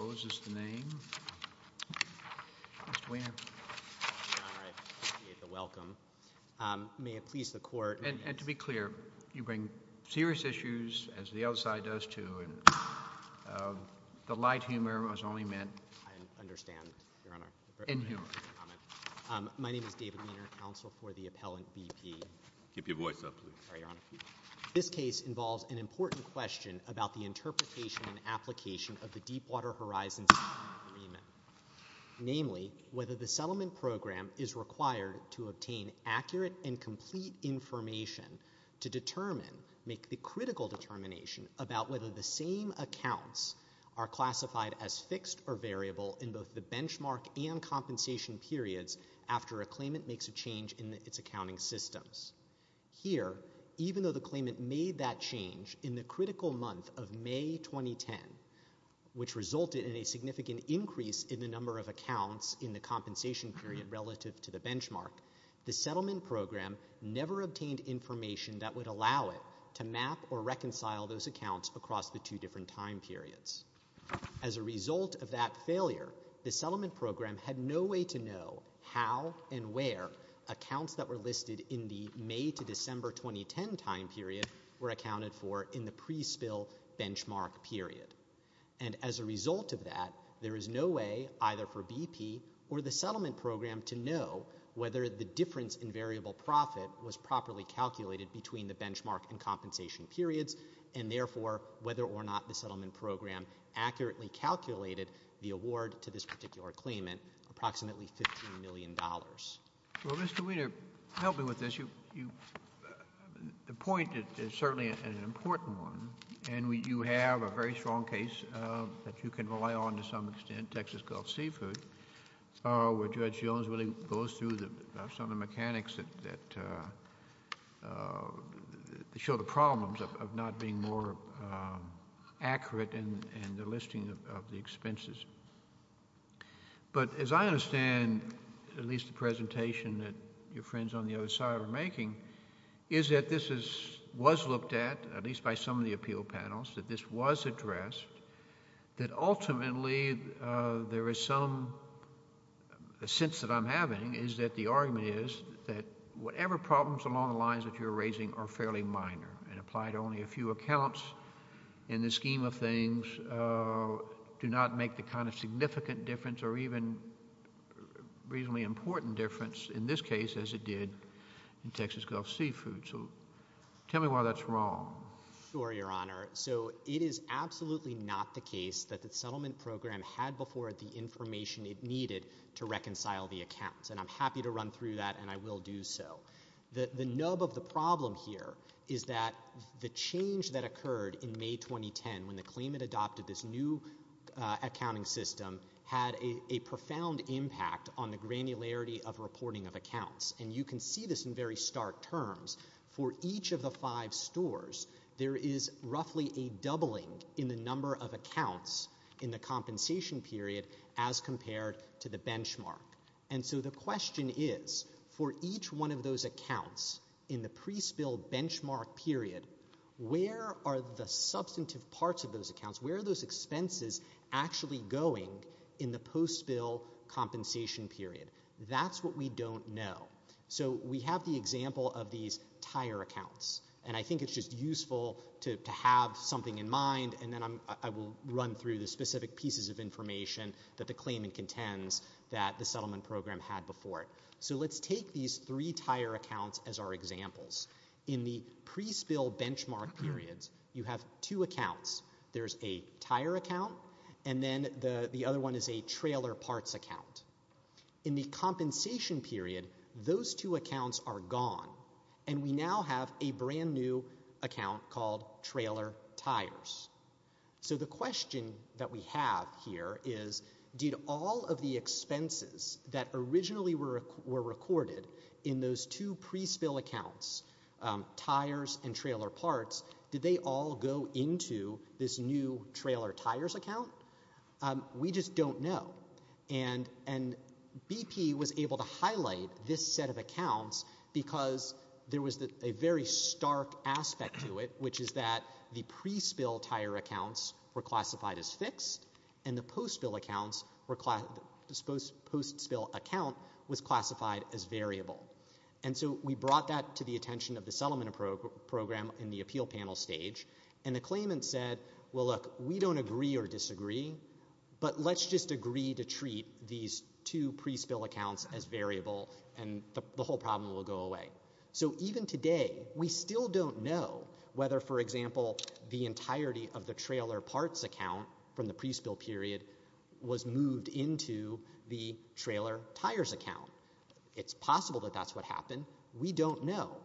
David Weiner, Counsel for the Appellant, B.P. This case involves an important question about the interpretation and application of the Deepwater Horizons Agreement, namely, whether the settlement program is required to obtain accurate and complete information to determine, make the critical determination about whether the same accounts are classified as fixed or variable in both the benchmark and compensation periods after a claimant makes a change in its accounting systems. Here, even though the claimant made that change in the critical month of May 2010, which resulted in a significant increase in the number of accounts in the compensation period relative to the benchmark, the settlement program never obtained information that would allow it to map or reconcile those accounts across the two different time periods. As a result of that failure, the settlement program had no way to know how and where accounts that were in the May to December 2010 time period were accounted for in the pre-spill benchmark period. And as a result of that, there is no way either for B.P. or the settlement program to know whether the difference in variable profit was properly calculated between the benchmark and compensation periods, and therefore, whether or not the settlement program accurately calculated the award to this particular claimant, approximately $15 million. Well, Mr. Weiner, help me with this. The point is certainly an important one, and you have a very strong case that you can rely on to some extent, Texas Gulf Seafood, where Judge Jones really goes through some of the mechanics that show the problems of not being more accurate and the listing of the expenses. But as I understand, at least the presentation that your friends on the other side are making, is that this was looked at, at least by some of the appeal panels, that this was addressed, that ultimately there is some sense that I'm having is that the argument is that whatever problems along the lines that you're raising are fairly minor and apply to only a few accounts in the scheme of things, do not make the kind of significant difference or even reasonably important difference in this case, as it did in Texas Gulf Seafood. So tell me why that's wrong. Sure, Your Honor. So it is absolutely not the case that the settlement program had before the information it needed to reconcile the accounts. And I'm happy to run through that, and I will do so. The nub of the problem here is that the change that occurred in May 2010, when the claimant adopted this new accounting system, had a profound impact on the granularity of reporting of accounts. And you can see this in very stark terms. For each of the five stores, there is roughly a doubling in the number of accounts in the compensation period, as compared to the benchmark. And so the question is, for each one of those accounts in the pre-spill benchmark period, where are the substantive parts of those accounts, where are those expenses actually going in the post-spill compensation period? That's what we don't know. So we have the example of these tire accounts. And I think it's just information that the claimant contends that the settlement program had before it. So let's take these three tire accounts as our examples. In the pre-spill benchmark periods, you have two accounts. There's a tire account, and then the other one is a trailer parts account. In the compensation period, those two accounts are gone. And we now have a brand new account called trailer tires. So the question that we have here is, did all of the expenses that originally were recorded in those two pre-spill accounts, tires and trailer parts, did they all go into this new trailer tires account? We just don't know. And BP was able to highlight this set of accounts because there was a very stark aspect to it, which is that the pre-spill tire accounts were classified as fixed, and the post-spill account was classified as variable. And so we brought that to the attention of the settlement program in the appeal panel stage. And the claimant said, well, look, we don't agree or disagree, but let's just do it, and the whole problem will go away. So even today, we still don't know whether, for example, the entirety of the trailer parts account from the pre-spill period was moved into the trailer tires account. It's possible that that's what happened. We don't know.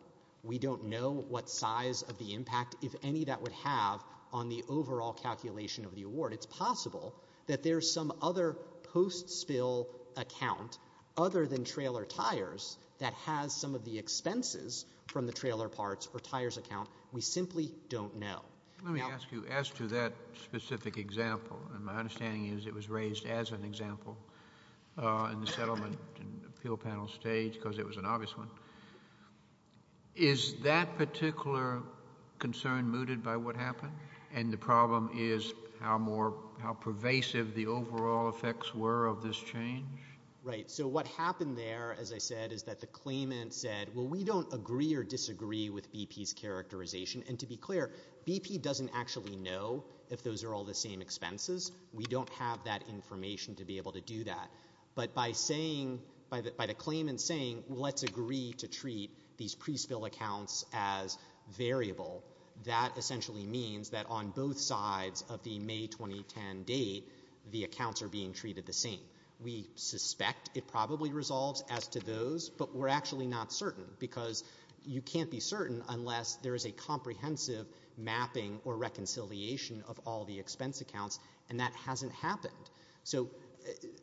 We don't know what size of the impact, if any, that would have on the overall calculation of the award. It's possible that there's some other post-spill account other than trailer tires that has some of the expenses from the trailer parts or tires account. We simply don't know. Let me ask you, as to that specific example, and my understanding is it was raised as an example in the settlement appeal panel stage because it was an obvious one, is that particular concern mooted by what happened? And the problem is how pervasive the overall effects were of this change? Right. So what happened there, as I said, is that the claimant said, well, we don't agree or disagree with BP's characterization. And to be clear, BP doesn't actually know if those are all the same expenses. We don't have that information to be able to do that. But by saying, by the claimant saying, well, let's agree to treat these pre-spill accounts as variable, that essentially means that on both sides of the May 2010 date, the accounts are being treated the same. We suspect it probably resolves as to those, but we're actually not certain because you can't be certain unless there is a comprehensive mapping or reconciliation of all the expense accounts, and that hasn't happened. So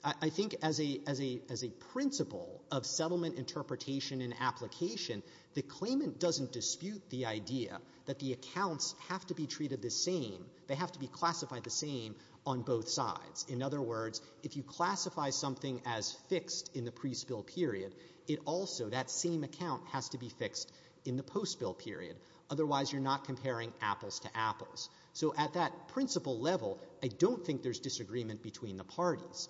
I think as a principle of settlement interpretation and application, the claimant doesn't dispute the idea that the accounts have to be treated the same, they have to be classified the same on both sides. In other words, if you classify something as fixed in the pre-spill period, it also, that same account has to be fixed in the post-spill period, otherwise you're not comparing apples to apples. So at that principle level, I don't think there's disagreement between the parties.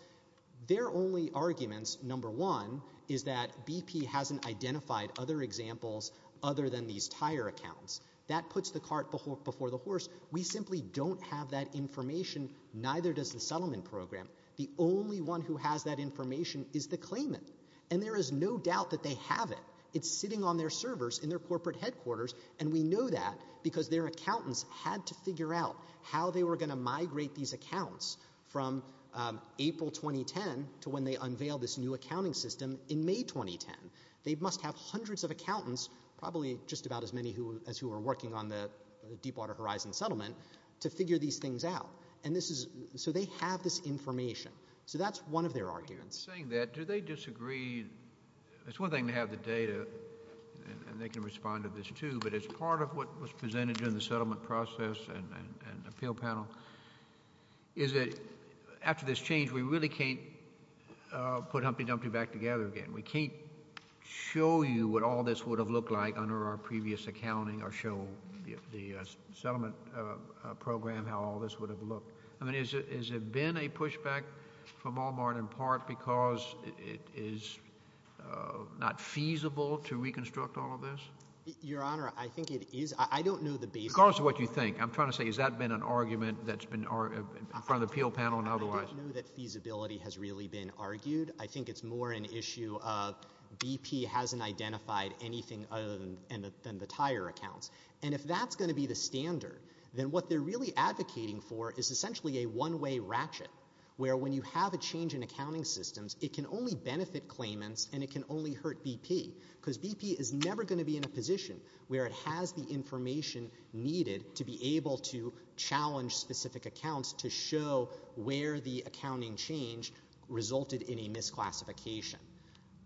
Their only arguments, number one, is that BP hasn't identified other examples other than these tire accounts. That puts the cart before the horse. We simply don't have that information, neither does the settlement program. The only one who has that information is the claimant, and there is no doubt that they have it. It's sitting on their servers in their corporate headquarters, and we know that because their accountants had to figure out how they were going to migrate these accounts from April 2010 to when they unveiled this new accounting system in May 2010. They must have hundreds of accountants, probably just about as many as who are working on the Deepwater Horizon settlement, to figure these things out. And this is, so they have this information. So that's one of their arguments. Saying that, do they disagree? It's one thing to have the data, and they can respond to this too, but as part of what was presented in the settlement process and appeal panel, is that after this change, we really can't put Humpty Dumpty back together again. We can't show you what all this would have looked like under our previous accounting or show the settlement program how all this would have looked. I mean, has there been a pushback from Walmart in part because it is not feasible to reconstruct all of this? Your Honor, I think it is. I don't know the basis. Because of what you think. I'm trying to say, has that been an argument that's been, in front of the appeal panel and otherwise? I don't know that feasibility has really been argued. I think it's more an issue of BP hasn't identified anything other than the tire accounts. And if that's going to be the standard, then what they're really advocating for is essentially a one-way ratchet, where when you have a change in accounting systems, it can only benefit claimants and it can only hurt BP. Because BP is never going to be in a position where it has the information needed to be able to make a decision. So that's where the accounting change resulted in a misclassification.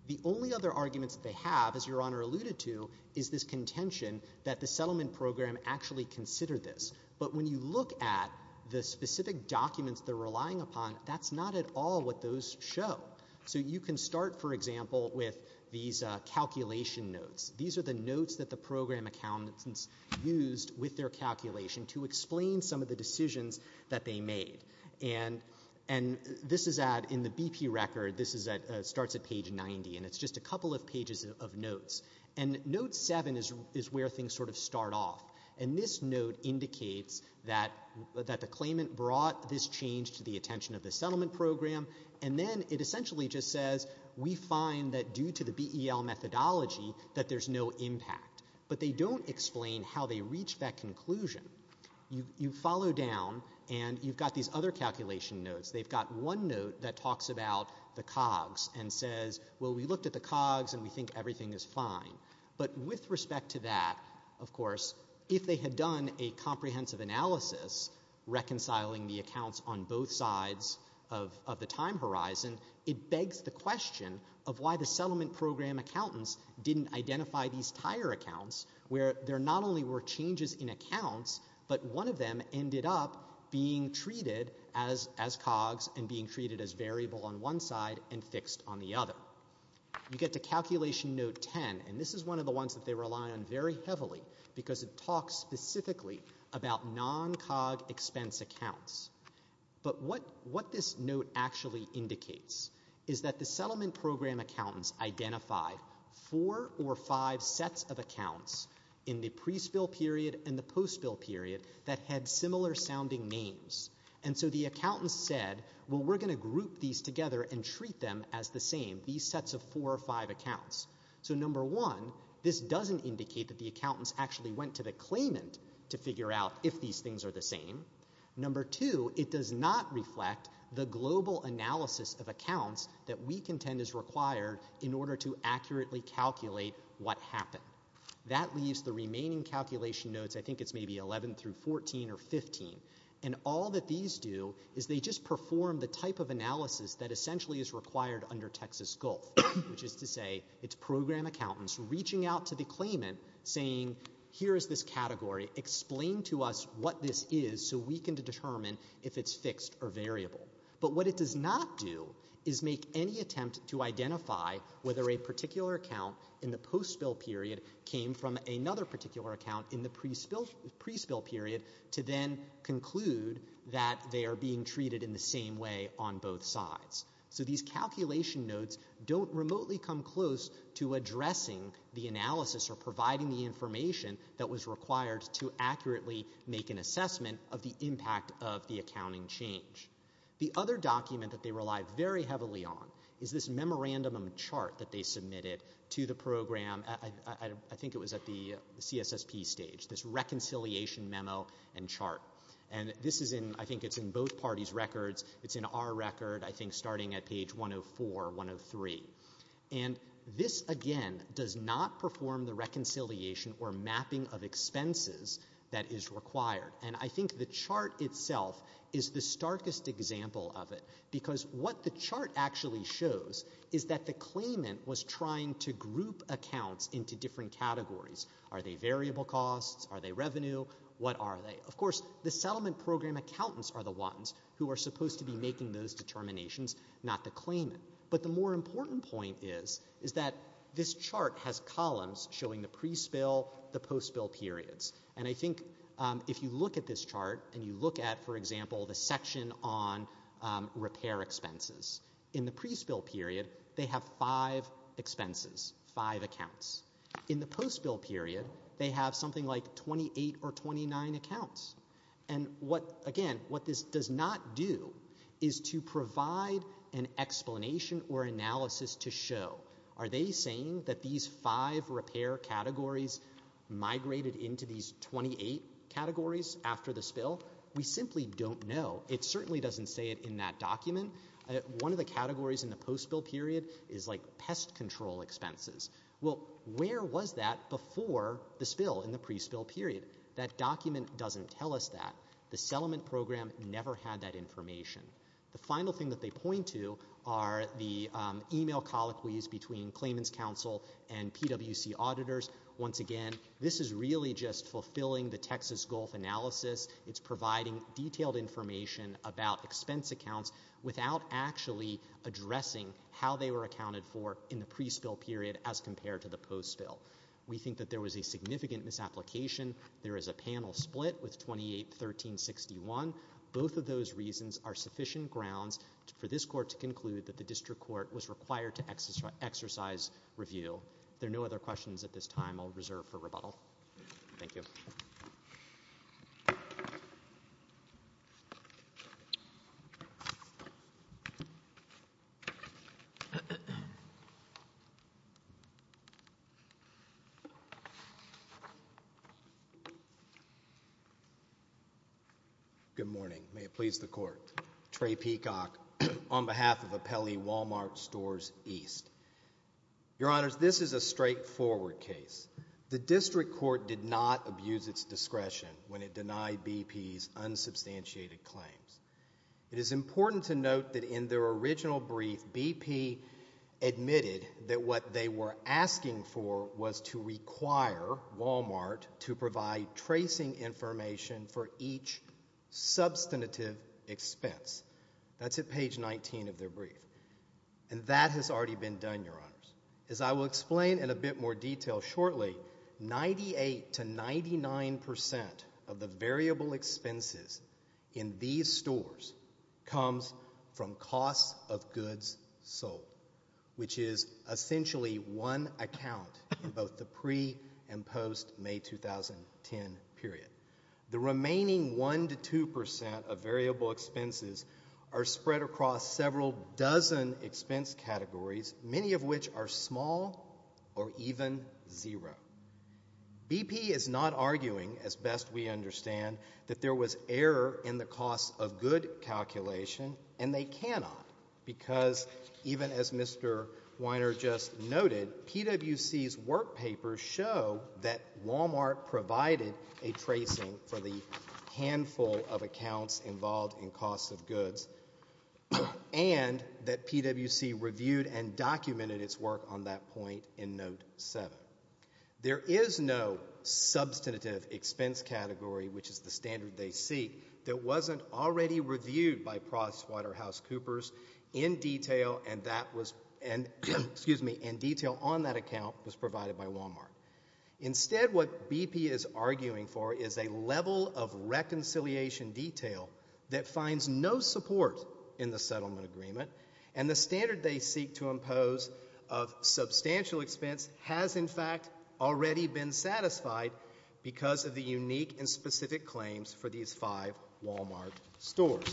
The only other arguments that they have, as Your Honor alluded to, is this contention that the settlement program actually considered this. But when you look at the specific documents they're relying upon, that's not at all what those show. So you can start, for example, with these calculation notes. These are the notes that the program accountants used with their calculation to explain some of the decisions that they made. And this is at, in the BP record, this is at, starts at page 90. And it's just a couple of pages of notes. And note 7 is where things sort of start off. And this note indicates that the claimant brought this change to the attention of the settlement program. And then it essentially just says, we find that due to the BEL methodology that there's no impact. But they don't explain how they reached that conclusion. You follow down, and you've got these other calculation notes. They've got one note that talks about the COGS and says, well, we looked at the COGS, and we think everything is fine. But with respect to that, of course, if they had done a comprehensive analysis, reconciling the accounts on both sides of the time horizon, it begs the question of why the settlement program accountants didn't identify these tire accounts, where there not only were changes in accounts, but one of them ended up being treated as COGS and being treated as variable on one side and fixed on the other. You get to calculation note 10. And this is one of the ones that they rely on very heavily, because it talks specifically about non-COG expense accounts. But what this note actually indicates is that the settlement program accountants identified four or five sets of accounts in the pre-spill period and the post-spill period that had similar sounding names. And so the accountants said, well, we're going to group these together and treat them as the same, these sets of four or five accounts. So number one, this doesn't indicate that the accountants actually went to the claimant to figure out if these things are the same. Number two, it does not provide an analysis of accounts that we contend is required in order to accurately calculate what happened. That leaves the remaining calculation notes, I think it's maybe 11 through 14 or 15. And all that these do is they just perform the type of analysis that essentially is required under Texas Gulf, which is to say it's program accountants reaching out to the claimant saying, here is this category, explain to us what this is so we can determine if it's fixed or variable. But what it does not do is make any attempt to identify whether a particular account in the post-spill period came from another particular account in the pre-spill period to then conclude that they are being treated in the same way on both sides. So these calculation notes don't remotely come close to addressing the analysis or providing the information that was required to accurately make an assessment of the impact of the accounting change. The other document that they rely very heavily on is this memorandum chart that they submitted to the program, I think it was at the CSSP stage, this reconciliation memo and chart. And this is in, I think it's in both parties' records, it's in our record, I think starting at page 104, 103. And this, again, does not perform the reconciliation or mapping of expenses that is required. And I think the chart itself is the starkest example of it, because what the chart actually shows is that the claimant was trying to group accounts into different categories. Are they variable costs? Are they revenue? What are they? Of course, the settlement program accountants are the ones who are supposed to be making those determinations, not the claimant. But the more important point is, is that this pre-spill, the post-spill periods. And I think if you look at this chart, and you look at, for example, the section on repair expenses, in the pre-spill period, they have five expenses, five accounts. In the post-spill period, they have something like 28 or 29 accounts. And what, again, what this does not do is to provide an explanation or analysis to show, are they saying that these five repair categories migrated into these 28 categories after the spill? We simply don't know. It certainly doesn't say it in that document. One of the categories in the post-spill period is like pest control expenses. Well, where was that before the spill in the pre-spill period? That document doesn't tell us that. The settlement program never had that information. The final thing that they point to are the email colloquies between claimant's counsel and PWC auditors. Once again, this is really just fulfilling the Texas Gulf analysis. It's providing detailed information about expense accounts without actually addressing how they were accounted for in the pre-spill period as compared to the post-spill. We think that there was a significant misapplication. There is a panel split with 28, 13, 61. Both of those reasons are sufficient grounds for this court to conclude that the district court was required to exercise review. If there are no other questions at this time, I'll reserve for rebuttal. Thank you. Good morning. May it please the court. Trey Peacock on behalf of Apelli Wal-Mart Stores East. Your honors, this is a straightforward case. The district court did not abuse its discretion when it denied BP's unsubstantiated claims. It is important to note that in their original brief, BP admitted that what they were asking for was to require Wal-Mart to provide tracing information for each substantive expense. That's at page 19 of their brief. And that has already been done, your honors. As I will explain in a bit more detail shortly, 98 to 99 percent of the variable expenses in these stores comes from costs of goods sold, which is essentially one account in both the pre- and post-May 2010 period. The present expense categories, many of which are small or even zero. BP is not arguing, as best we understand, that there was error in the cost of good calculation, and they cannot, because even as Mr. Weiner just noted, PWC's work papers show that Wal-Mart provided a tracing for the handful of accounts involved in costs of goods, and that PWC reviewed and documented its work on that point in note 7. There is no substantive expense category, which is the standard they seek, that wasn't already reviewed by Prosswater House Coopers in detail, and that was, excuse me, in detail on that account was provided by Wal-Mart. Instead, what BP is arguing for is a level of reconciliation detail that finds no support in the settlement agreement, and the standard they seek to impose of substantial expense has, in fact, already been satisfied because of the unique and specific claims for these five Wal-Mart stores.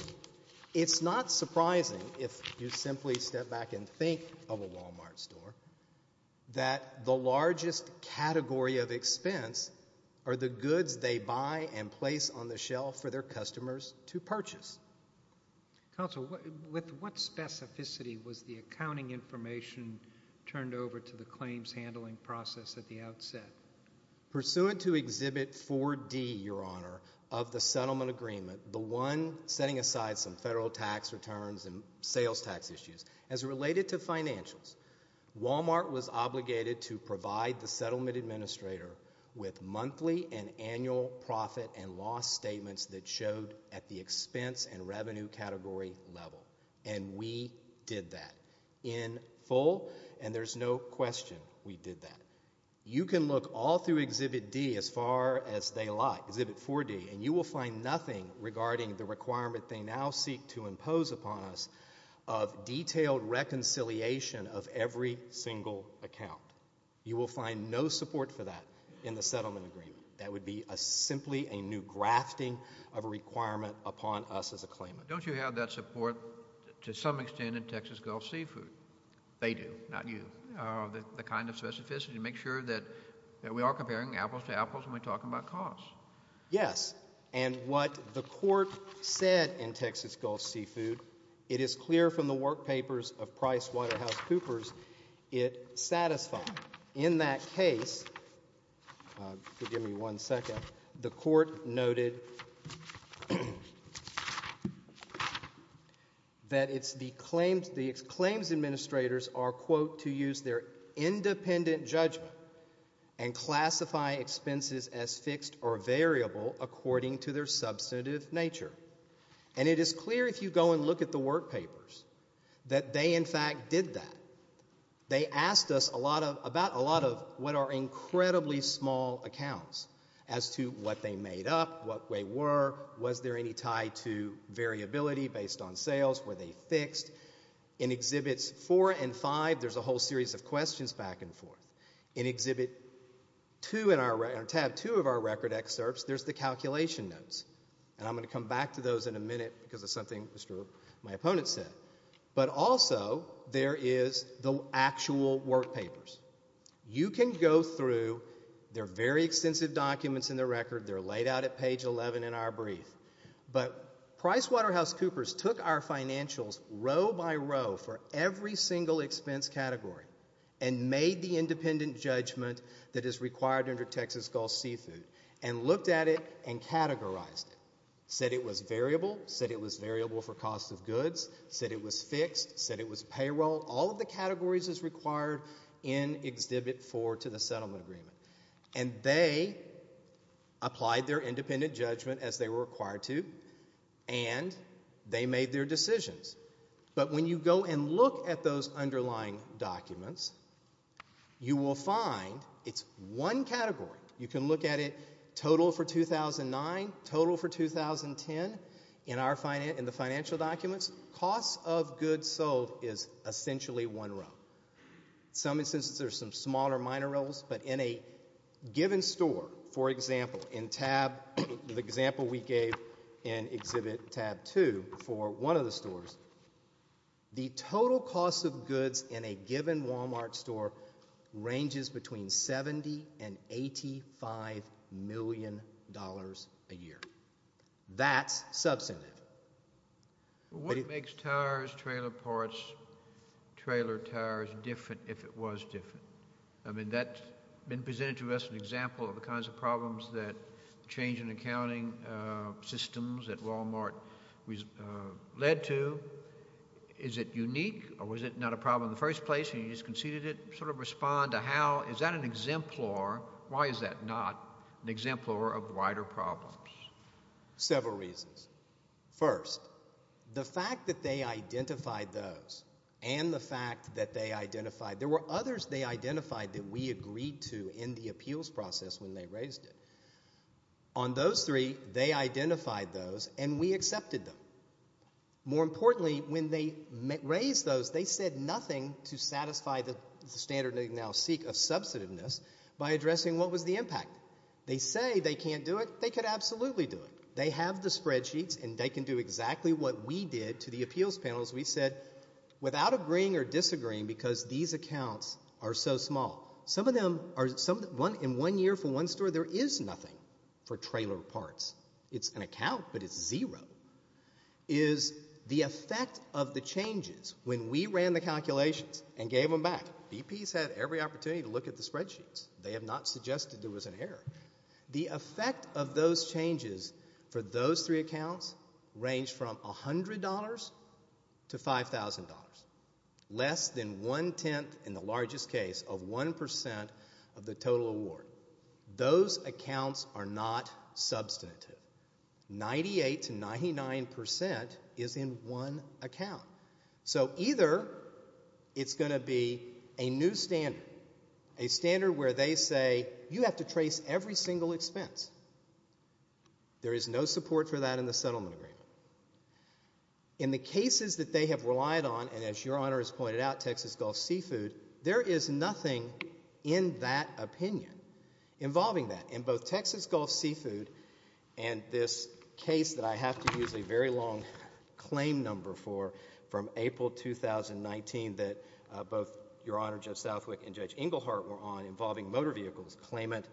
It's not surprising, if you simply step back and think of a Wal-Mart store, that the largest category of expense are the goods they buy and place on the shelf for their customers to purchase. Counsel, with what specificity was the accounting information turned over to the claims handling process at the outset? Pursuant to Exhibit 4D, Your Honor, of the settlement agreement, the one setting aside some federal tax returns and sales tax issues, as related to financials, Wal-Mart was obligated to provide the settlement administrator with monthly and annual profit and loss statements that showed at the expense and revenue category level, and we did that in full, and there's no question we did that. You can look all through Exhibit D as far as they like, Exhibit 4D, and you will find nothing regarding the requirement they now seek to impose upon us of detailed reconciliation of every single account. You will find no support for that in the settlement agreement. That would be simply a new grafting of a requirement upon us as a claimant. Don't you have that support, to some extent, in Texas Gulf Seafood? They do, not you. The kind of specificity to make sure that we are comparing apples to apples when we're talking about costs. Yes, and what the Court said in Texas Gulf Seafood, it is clear from the work papers of PricewaterhouseCoopers, it satisfied. In that case, forgive me one second, the Court noted that it's the claims administrators are, quote, to use their independent judgment and classify expenses as fixed or variable according to their substantive nature. And it is clear if you go and look at the work papers that they, in fact, did that. They asked us about a lot of what are incredibly small accounts as to what they made up, what they were, was there any tie to variability based on sales, were they fixed. In Exhibits 4 and 5, there's a whole series of questions back and forth. In Tab 2 of our record excerpts, there's the calculation notes, and I'm going to come back to those in a minute because of something my opponent said. But also, there is the actual work papers. You can go through, they're very extensive documents in the record, they're laid out at page 11 in our brief. But PricewaterhouseCoopers took our financials row by row for every single expense category and made the independent judgment that is required under Texas Gulf Seafood and looked at it and categorized it, said it was variable, said it was variable for cost of goods, said it was fixed, said it was payroll, all of the categories as required in Exhibit 4 to the settlement agreement. And they applied their independent judgment as they were required to and they made their decisions. But when you go and look at those underlying documents, you will find it's one category. You can look at it total for 2009, total for 2010 in the financial documents. Cost of goods sold is essentially one row. Some instances there's some smaller minor rows, but in a given store, for example, in Tab, the example we gave in Exhibit Tab 2 for one of the stores, the total cost of goods in a given Walmart store ranges between $70 and $85 million a year. That's substantive. What makes tires, trailer parts, trailer tires different if it was different? I mean, that has been presented to us as an example of the kinds of problems that change in accounting systems at Walmart led to. Is it unique or was it not a problem in the first place and you just conceded it? Sort of respond to how is that an exemplar? Why is that not an exemplar of wider problems? Several reasons. First, the fact that they identified those and the fact that they identified, there were others they identified that we agreed to in the appeals process when they raised it. On those three, they identified those and we accepted them. More importantly, when they raised those, they said nothing to satisfy the standard they now seek of substantiveness by addressing what was the impact. They say they can't do it. They could absolutely do it. They have the spreadsheets and they can do exactly what we did to the appeals panels. We said, without agreeing or disagreeing, because these accounts are so small. Some of them are, in one year for one store, there is nothing for trailer parts. It's an account, but it's zero, is the effect of the changes when we ran the calculations and gave them back. VPs had every opportunity to look at the spreadsheets. They have not suggested there was an error. The effect of those changes for those three accounts ranged from $100 to $5,000, less than one-tenth, in the largest case, of 1% of the total award. Those accounts are not substantive. 98 to 99% is in one account. So either it's going to be $1,000 or $1,000 or $1,000. It's going to be a new standard, a standard where they say, you have to trace every single expense. There is no support for that in the settlement agreement. In the cases that they have relied on, and as Your Honor has pointed out, Texas Gulf Seafood, there is nothing in that opinion involving that. In both Texas Gulf Seafood and this case that I have to use a very long claim number for, from April 2019, that both Texas Gulf Seafood, Your Honor, Judge Southwick, and Judge Engelhardt were on involving motor vehicles, claimant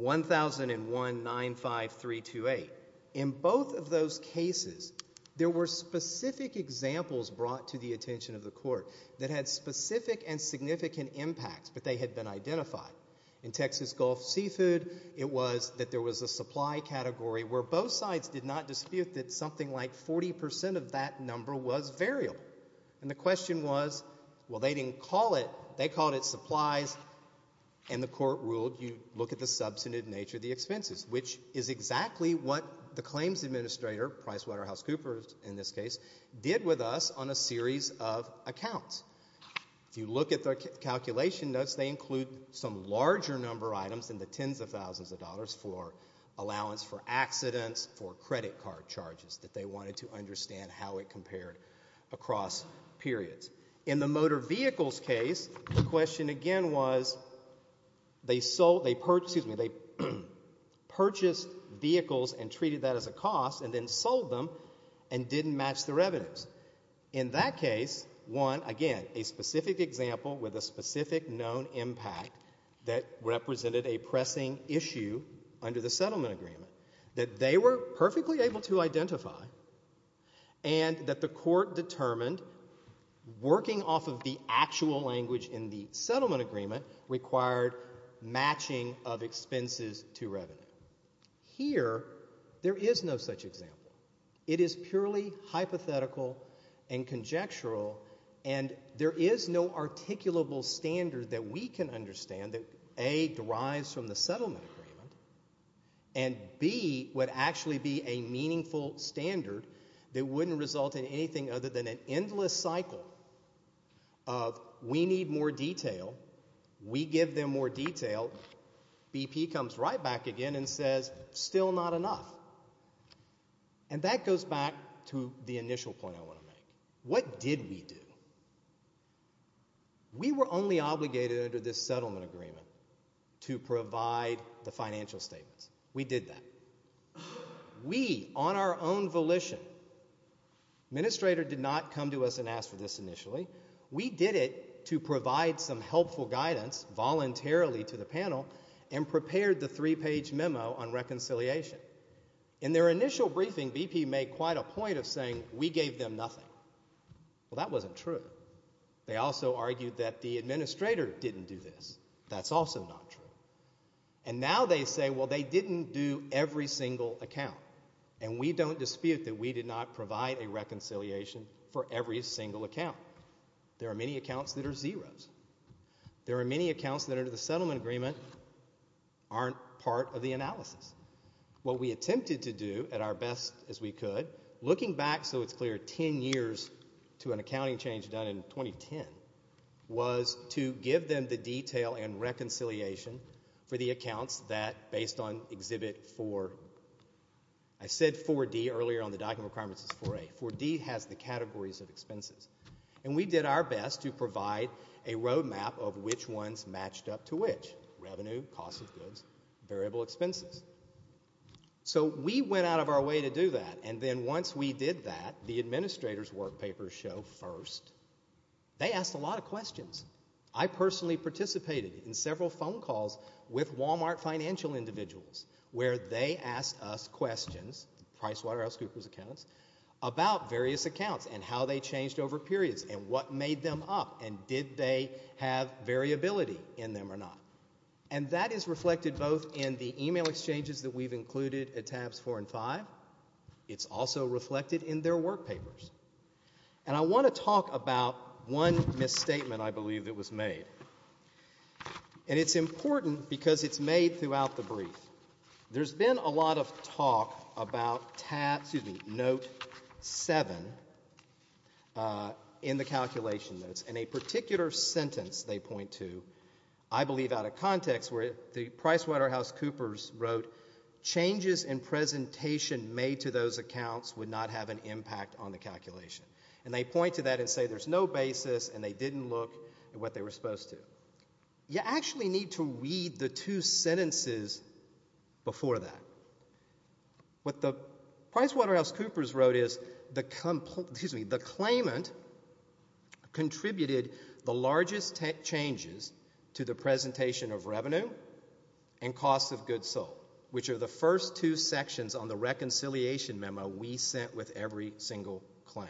1001-95328. In both of those cases, there were specific examples brought to the attention of the Court that had specific and significant impacts, but they had been identified. In Texas Gulf Seafood, it was that there was a supply category where both sides did not dispute that something like 40% of that number was variable. And the question was, well, they didn't call it, they called it supplies, and the Court ruled you look at the substantive nature of the expenses, which is exactly what the claims administrator, PricewaterhouseCoopers in this case, did with us on a series of accounts. If you look at the calculation notes, they include some larger number items than the tens of thousands of dollars for allowance for accidents, for credit card charges that they wanted to understand how it compared across periods. In the motor vehicles case, the question again was, they purchased vehicles and treated that as a cost and then sold them and didn't match the revenues. In that case, one, again, a specific example with a specific known impact that represented a pressing issue under the settlement agreement that they were perfectly able to identify and that the Court determined working off of the actual language in the settlement agreement required matching of expenses to revenue. Here, there is no such example. It is purely hypothetical and conjectural, and there is no articulable standard that we can understand that, A, derives from the settlement agreement, and, B, would actually be a meaningful standard that wouldn't result in anything other than an endless cycle of we need more detail, we give them more detail, BP comes right back again and says, still not enough. And that goes back to the initial point I want to make. What did we do? We were only obligated under this settlement agreement to provide the financial statements. We did that. We, on our own volition, the administrator did not come to us and ask for this initially. We did it to provide some helpful guidance voluntarily to the panel and prepared the three-page memo on reconciliation. In their initial briefing, BP made quite a point of saying we gave them nothing. Well, that wasn't true. They also argued that the administrator didn't do this. That's also not true. And now they say, well, they didn't do every single account, and we don't dispute that we did not provide a reconciliation for every single account. There are many accounts that are zeros. There are many accounts that under the settlement agreement aren't part of the analysis. What we attempted to do at our best as we could, looking back so it's clear 10 years to an accounting change done in 2010, was to give them the detail and reconciliation for the accounts that, based on Exhibit 4, I said 4D earlier on the document requirements is 4A. 4D has the categories of expenses. And we did our best to provide a roadmap of which ones matched up to which, revenue, cost of goods, variable expenses. So we went out of our way to do that, and then once we did that, the administrator's work papers show first, they asked a lot of questions. I personally participated in several phone calls with Walmart financial individuals where they asked us questions, PricewaterhouseCoopers accounts, about various accounts and how they changed over periods and what made them up and did they have variability in them or not. And that is reflected both in the email exchanges that we've included at tabs four and five. It's also reflected in their work papers. And I want to talk about one misstatement I believe that was made. And it's important because it's made throughout the brief. There's been a lot of talk about tab, excuse me, note seven in the calculation notes. In a particular context where the PricewaterhouseCoopers wrote changes in presentation made to those accounts would not have an impact on the calculation. And they point to that and say there's no basis and they didn't look at what they were supposed to. You actually need to read the two sentences before that. What the PricewaterhouseCoopers wrote is the claimant contributed the largest changes to the presentation of revenue and cost of goods sold, which are the first two sections on the reconciliation memo we sent with every single claim.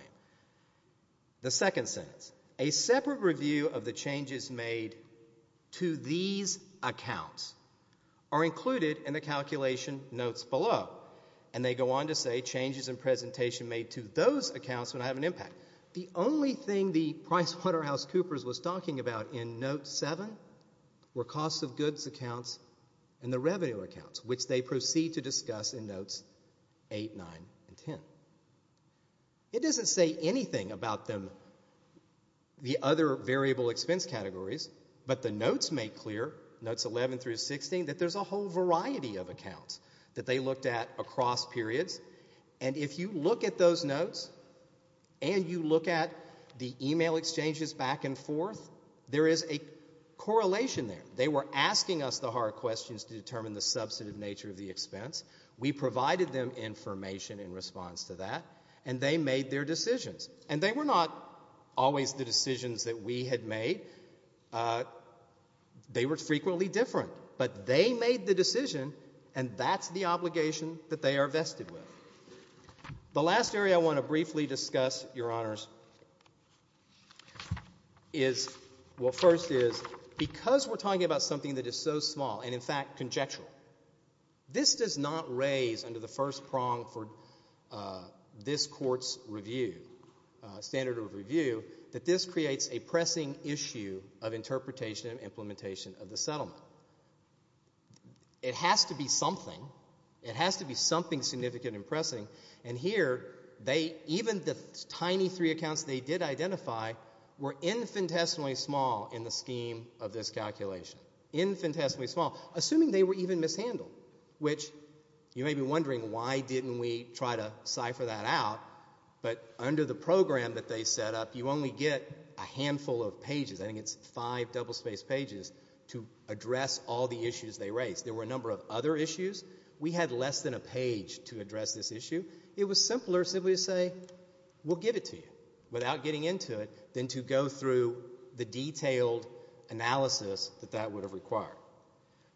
The second sentence, a separate review of the changes made to these accounts are included in the calculation notes below. And they go on to say changes in presentation made to those accounts would have an impact. The only thing the PricewaterhouseCoopers was talking about in note seven were cost of goods accounts and the revenue accounts, which they proceed to discuss in notes eight, nine, and ten. It doesn't say anything about them, the other variable expense categories, but the notes make clear, notes 11 through 16, that there's a whole variety of accounts that they looked at across periods. And if you look at those notes and you look at the email exchanges back and forth, there is a correlation there. They were asking us the hard questions to determine the substantive nature of the expense. We provided them information in response to that and they made their decisions. And they were not always the decisions that we had made. They were frequently different. But they made the decision and that's the obligation that they are vested with. The last area I want to briefly discuss, Your Honors, is, well, first is, because we're talking about something that is so small and in fact conjectural, this does not raise under the first prong for this court's review, standard of review, that this creates a pressing issue of interpretation and implementation of the settlement. It has to be something. It has to be something significant and pressing. And here, they, even the tiny three accounts they did identify, were infinitesimally small in the scheme of this calculation. Infinitesimally small. Assuming they were even mishandled, which you may be wondering, why didn't we try to cipher that out? But under the program that they set up, you only get a handful of pages, I think it's five double-spaced pages, to address all the issues they raised. There were a number of other issues. We had less than a page to address this issue. It was simpler simply to say, we'll give it to you, without getting into it, than to go through the detailed analysis that that would have required.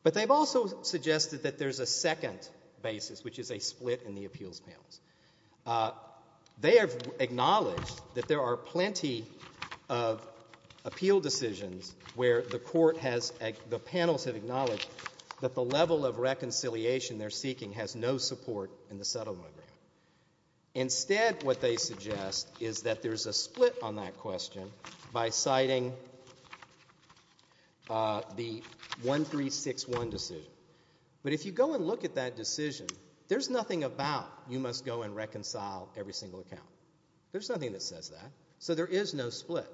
But they've also suggested that there's a second basis, which is a split in the appeals panels. They have acknowledged that there are plenty of appeal decisions where the court has, the panels have acknowledged that the level of reconciliation they're seeking has no support in the settlement agreement. Instead, what they suggest is that there's a split on that question by citing the 1361 decision. But if you go and look at that decision, there's nothing about, you must go and reconcile every single account. There's nothing that says that. So there is no split.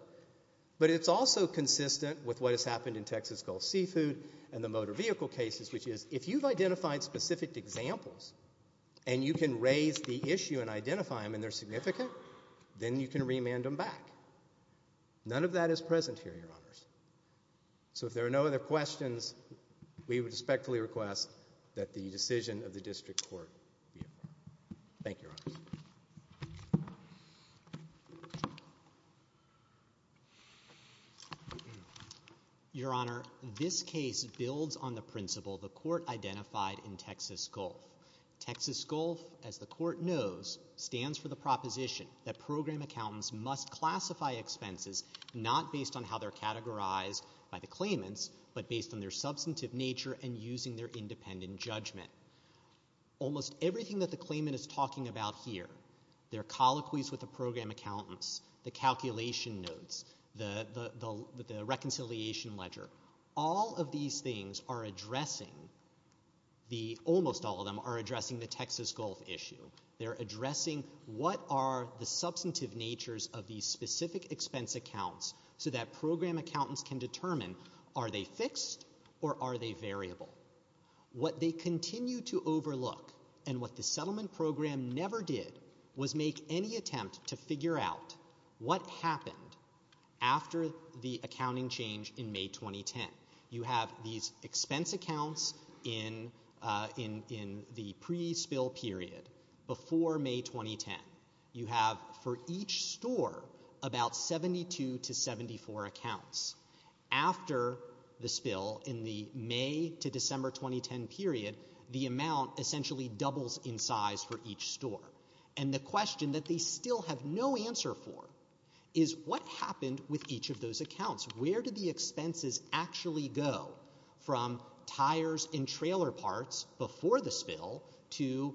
But it's also consistent with what has happened in Texas Gulf Seafood and the motor vehicle cases, which is, if you've identified specific examples, and you can raise the issue and identify them, and they're significant, then you can remand them back. None of that is present here, Your Honors. So if there are no other questions, we would respectfully request that the decision of the district court be approved. Thank you, Your Honors. Your Honor, this case builds on the principle the court identified in Texas Gulf. Texas Gulf, as the court knows, stands for the proposition that program accountants must classify expenses not based on how they're categorized by the claimants, but based on their substantive nature and using their independent judgment. Almost everything that the claimant is talking about here, their colloquies with the program accountants, the calculation notes, the reconciliation ledger, all of these things are addressing the, almost all of them are addressing the Texas Gulf issue. They're addressing what are the substantive natures of these specific expense accounts so that program accountants can determine are they fixed or are they variable? What they continue to overlook and what the settlement program never did was make any attempt to figure out what happened after the accounting change in May 2010. You have these expense accounts in the pre-spill period before May 2010. You have for each store about 72 to 74 accounts. After the spill in the May to December 2010 period, the amount essentially doubles in size for each store. And the question that they still have no answer for is what happened with each of those accounts? Where did the expenses actually go from tires and trailer parts before the spill to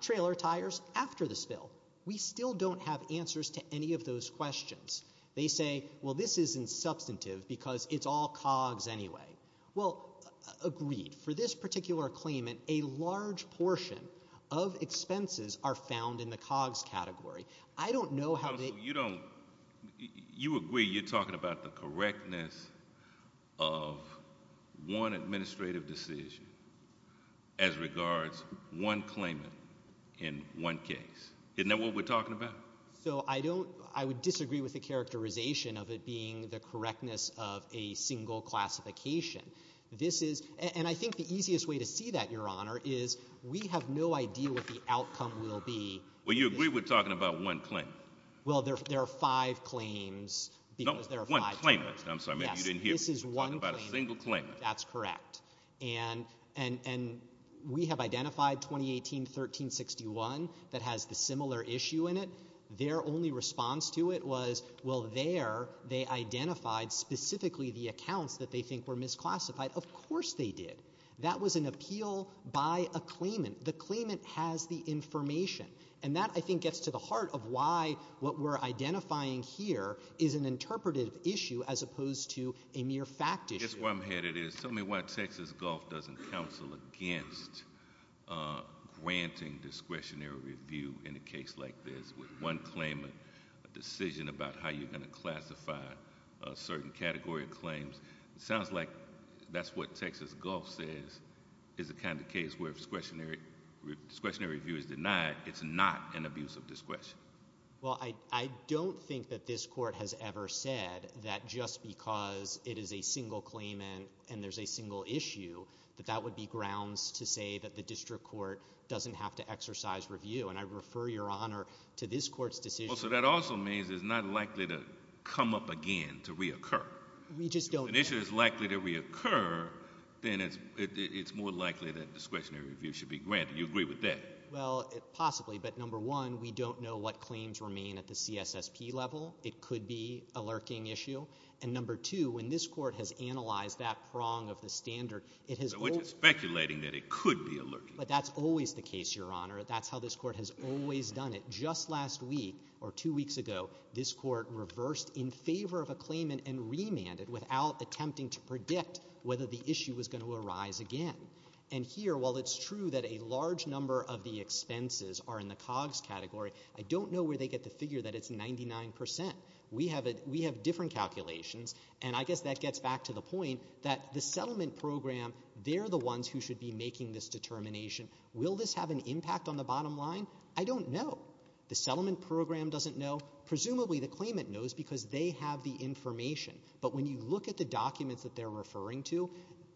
trailer tires after the spill? We still don't have answers to any of those questions. They say, well, this isn't substantive because it's all COGS anyway. Well, agreed. For this particular claimant, a large portion of expenses are found in the COGS category. I don't know how they... You don't, you agree you're talking about the correctness of one administrative decision as regards one claimant in one case. Isn't that what we're talking about? So I don't, I would disagree with the characterization of it being the correctness of a single classification. This is, and I think the easiest way to see that, Your Honor, is we have no idea what the outcome will be. Well, you agree we're talking about one claimant. Well, there are five claims because there are five... No, one claimant. I'm sorry, maybe you didn't hear me. Yes, this is one claimant. We're talking about a single claimant. That's correct. And we have identified 2018-1361 that has the similar issue in it. We have their only response to it was, well, there they identified specifically the accounts that they think were misclassified. Of course they did. That was an appeal by a claimant. The claimant has the information. And that, I think, gets to the heart of why what we're identifying here is an interpretive issue as opposed to a mere fact issue. That's where I'm headed is, tell me why Texas Gulf doesn't counsel against granting discretionary review in a case like this with one claimant, a decision about how you're going to classify a certain category of claims. It sounds like that's what Texas Gulf says is the kind of case where discretionary review is denied. It's not an abuse of discretion. Well, I don't think that this court has ever said that just because it is a single claimant and there's a single issue, that that would be grounds to say that the district court doesn't have to exercise review. And I refer your honor to this court's decision. Well, so that also means it's not likely to come up again, to reoccur. We just don't know. If an issue is likely to reoccur, then it's more likely that discretionary review should be granted. You agree with that? Well, possibly. But number one, we don't know what claims remain at the CSSP level. It could be a lurking issue. And number two, when this court has analyzed that prong of the standard, it has always- Which is speculating that it could be a lurking issue. But that's always the case, your honor. That's how this court has always done it. Just last week or two weeks ago, this court reversed in favor of a claimant and remanded without attempting to predict whether the issue was going to arise again. And here, while it's true that a large number of the expenses are in the COGS category, I don't know where they get the figure that it's 99%. We have different calculations. And I guess that gets back to the point that the settlement program, they're the ones who should be making this determination. Will this have an impact on the bottom line? I don't know. The settlement program doesn't know. Presumably, the claimant knows because they have the information. But when you look at the documents that they're referring to,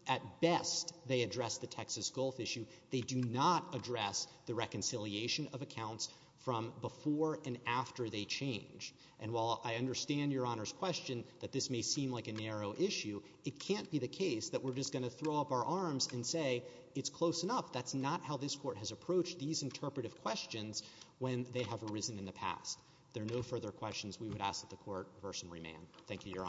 at best, they address the Texas Gulf issue. They do not address the reconciliation of accounts from before and after they change. And while I understand your honor's question that this may seem like a narrow issue, it can't be the case that we're just going to throw up our arms and say, it's close enough. That's not how this court has approached these interpretive questions when they have arisen in the past. There are no further questions we would ask that the court reverse and remand. Thank you, your honors.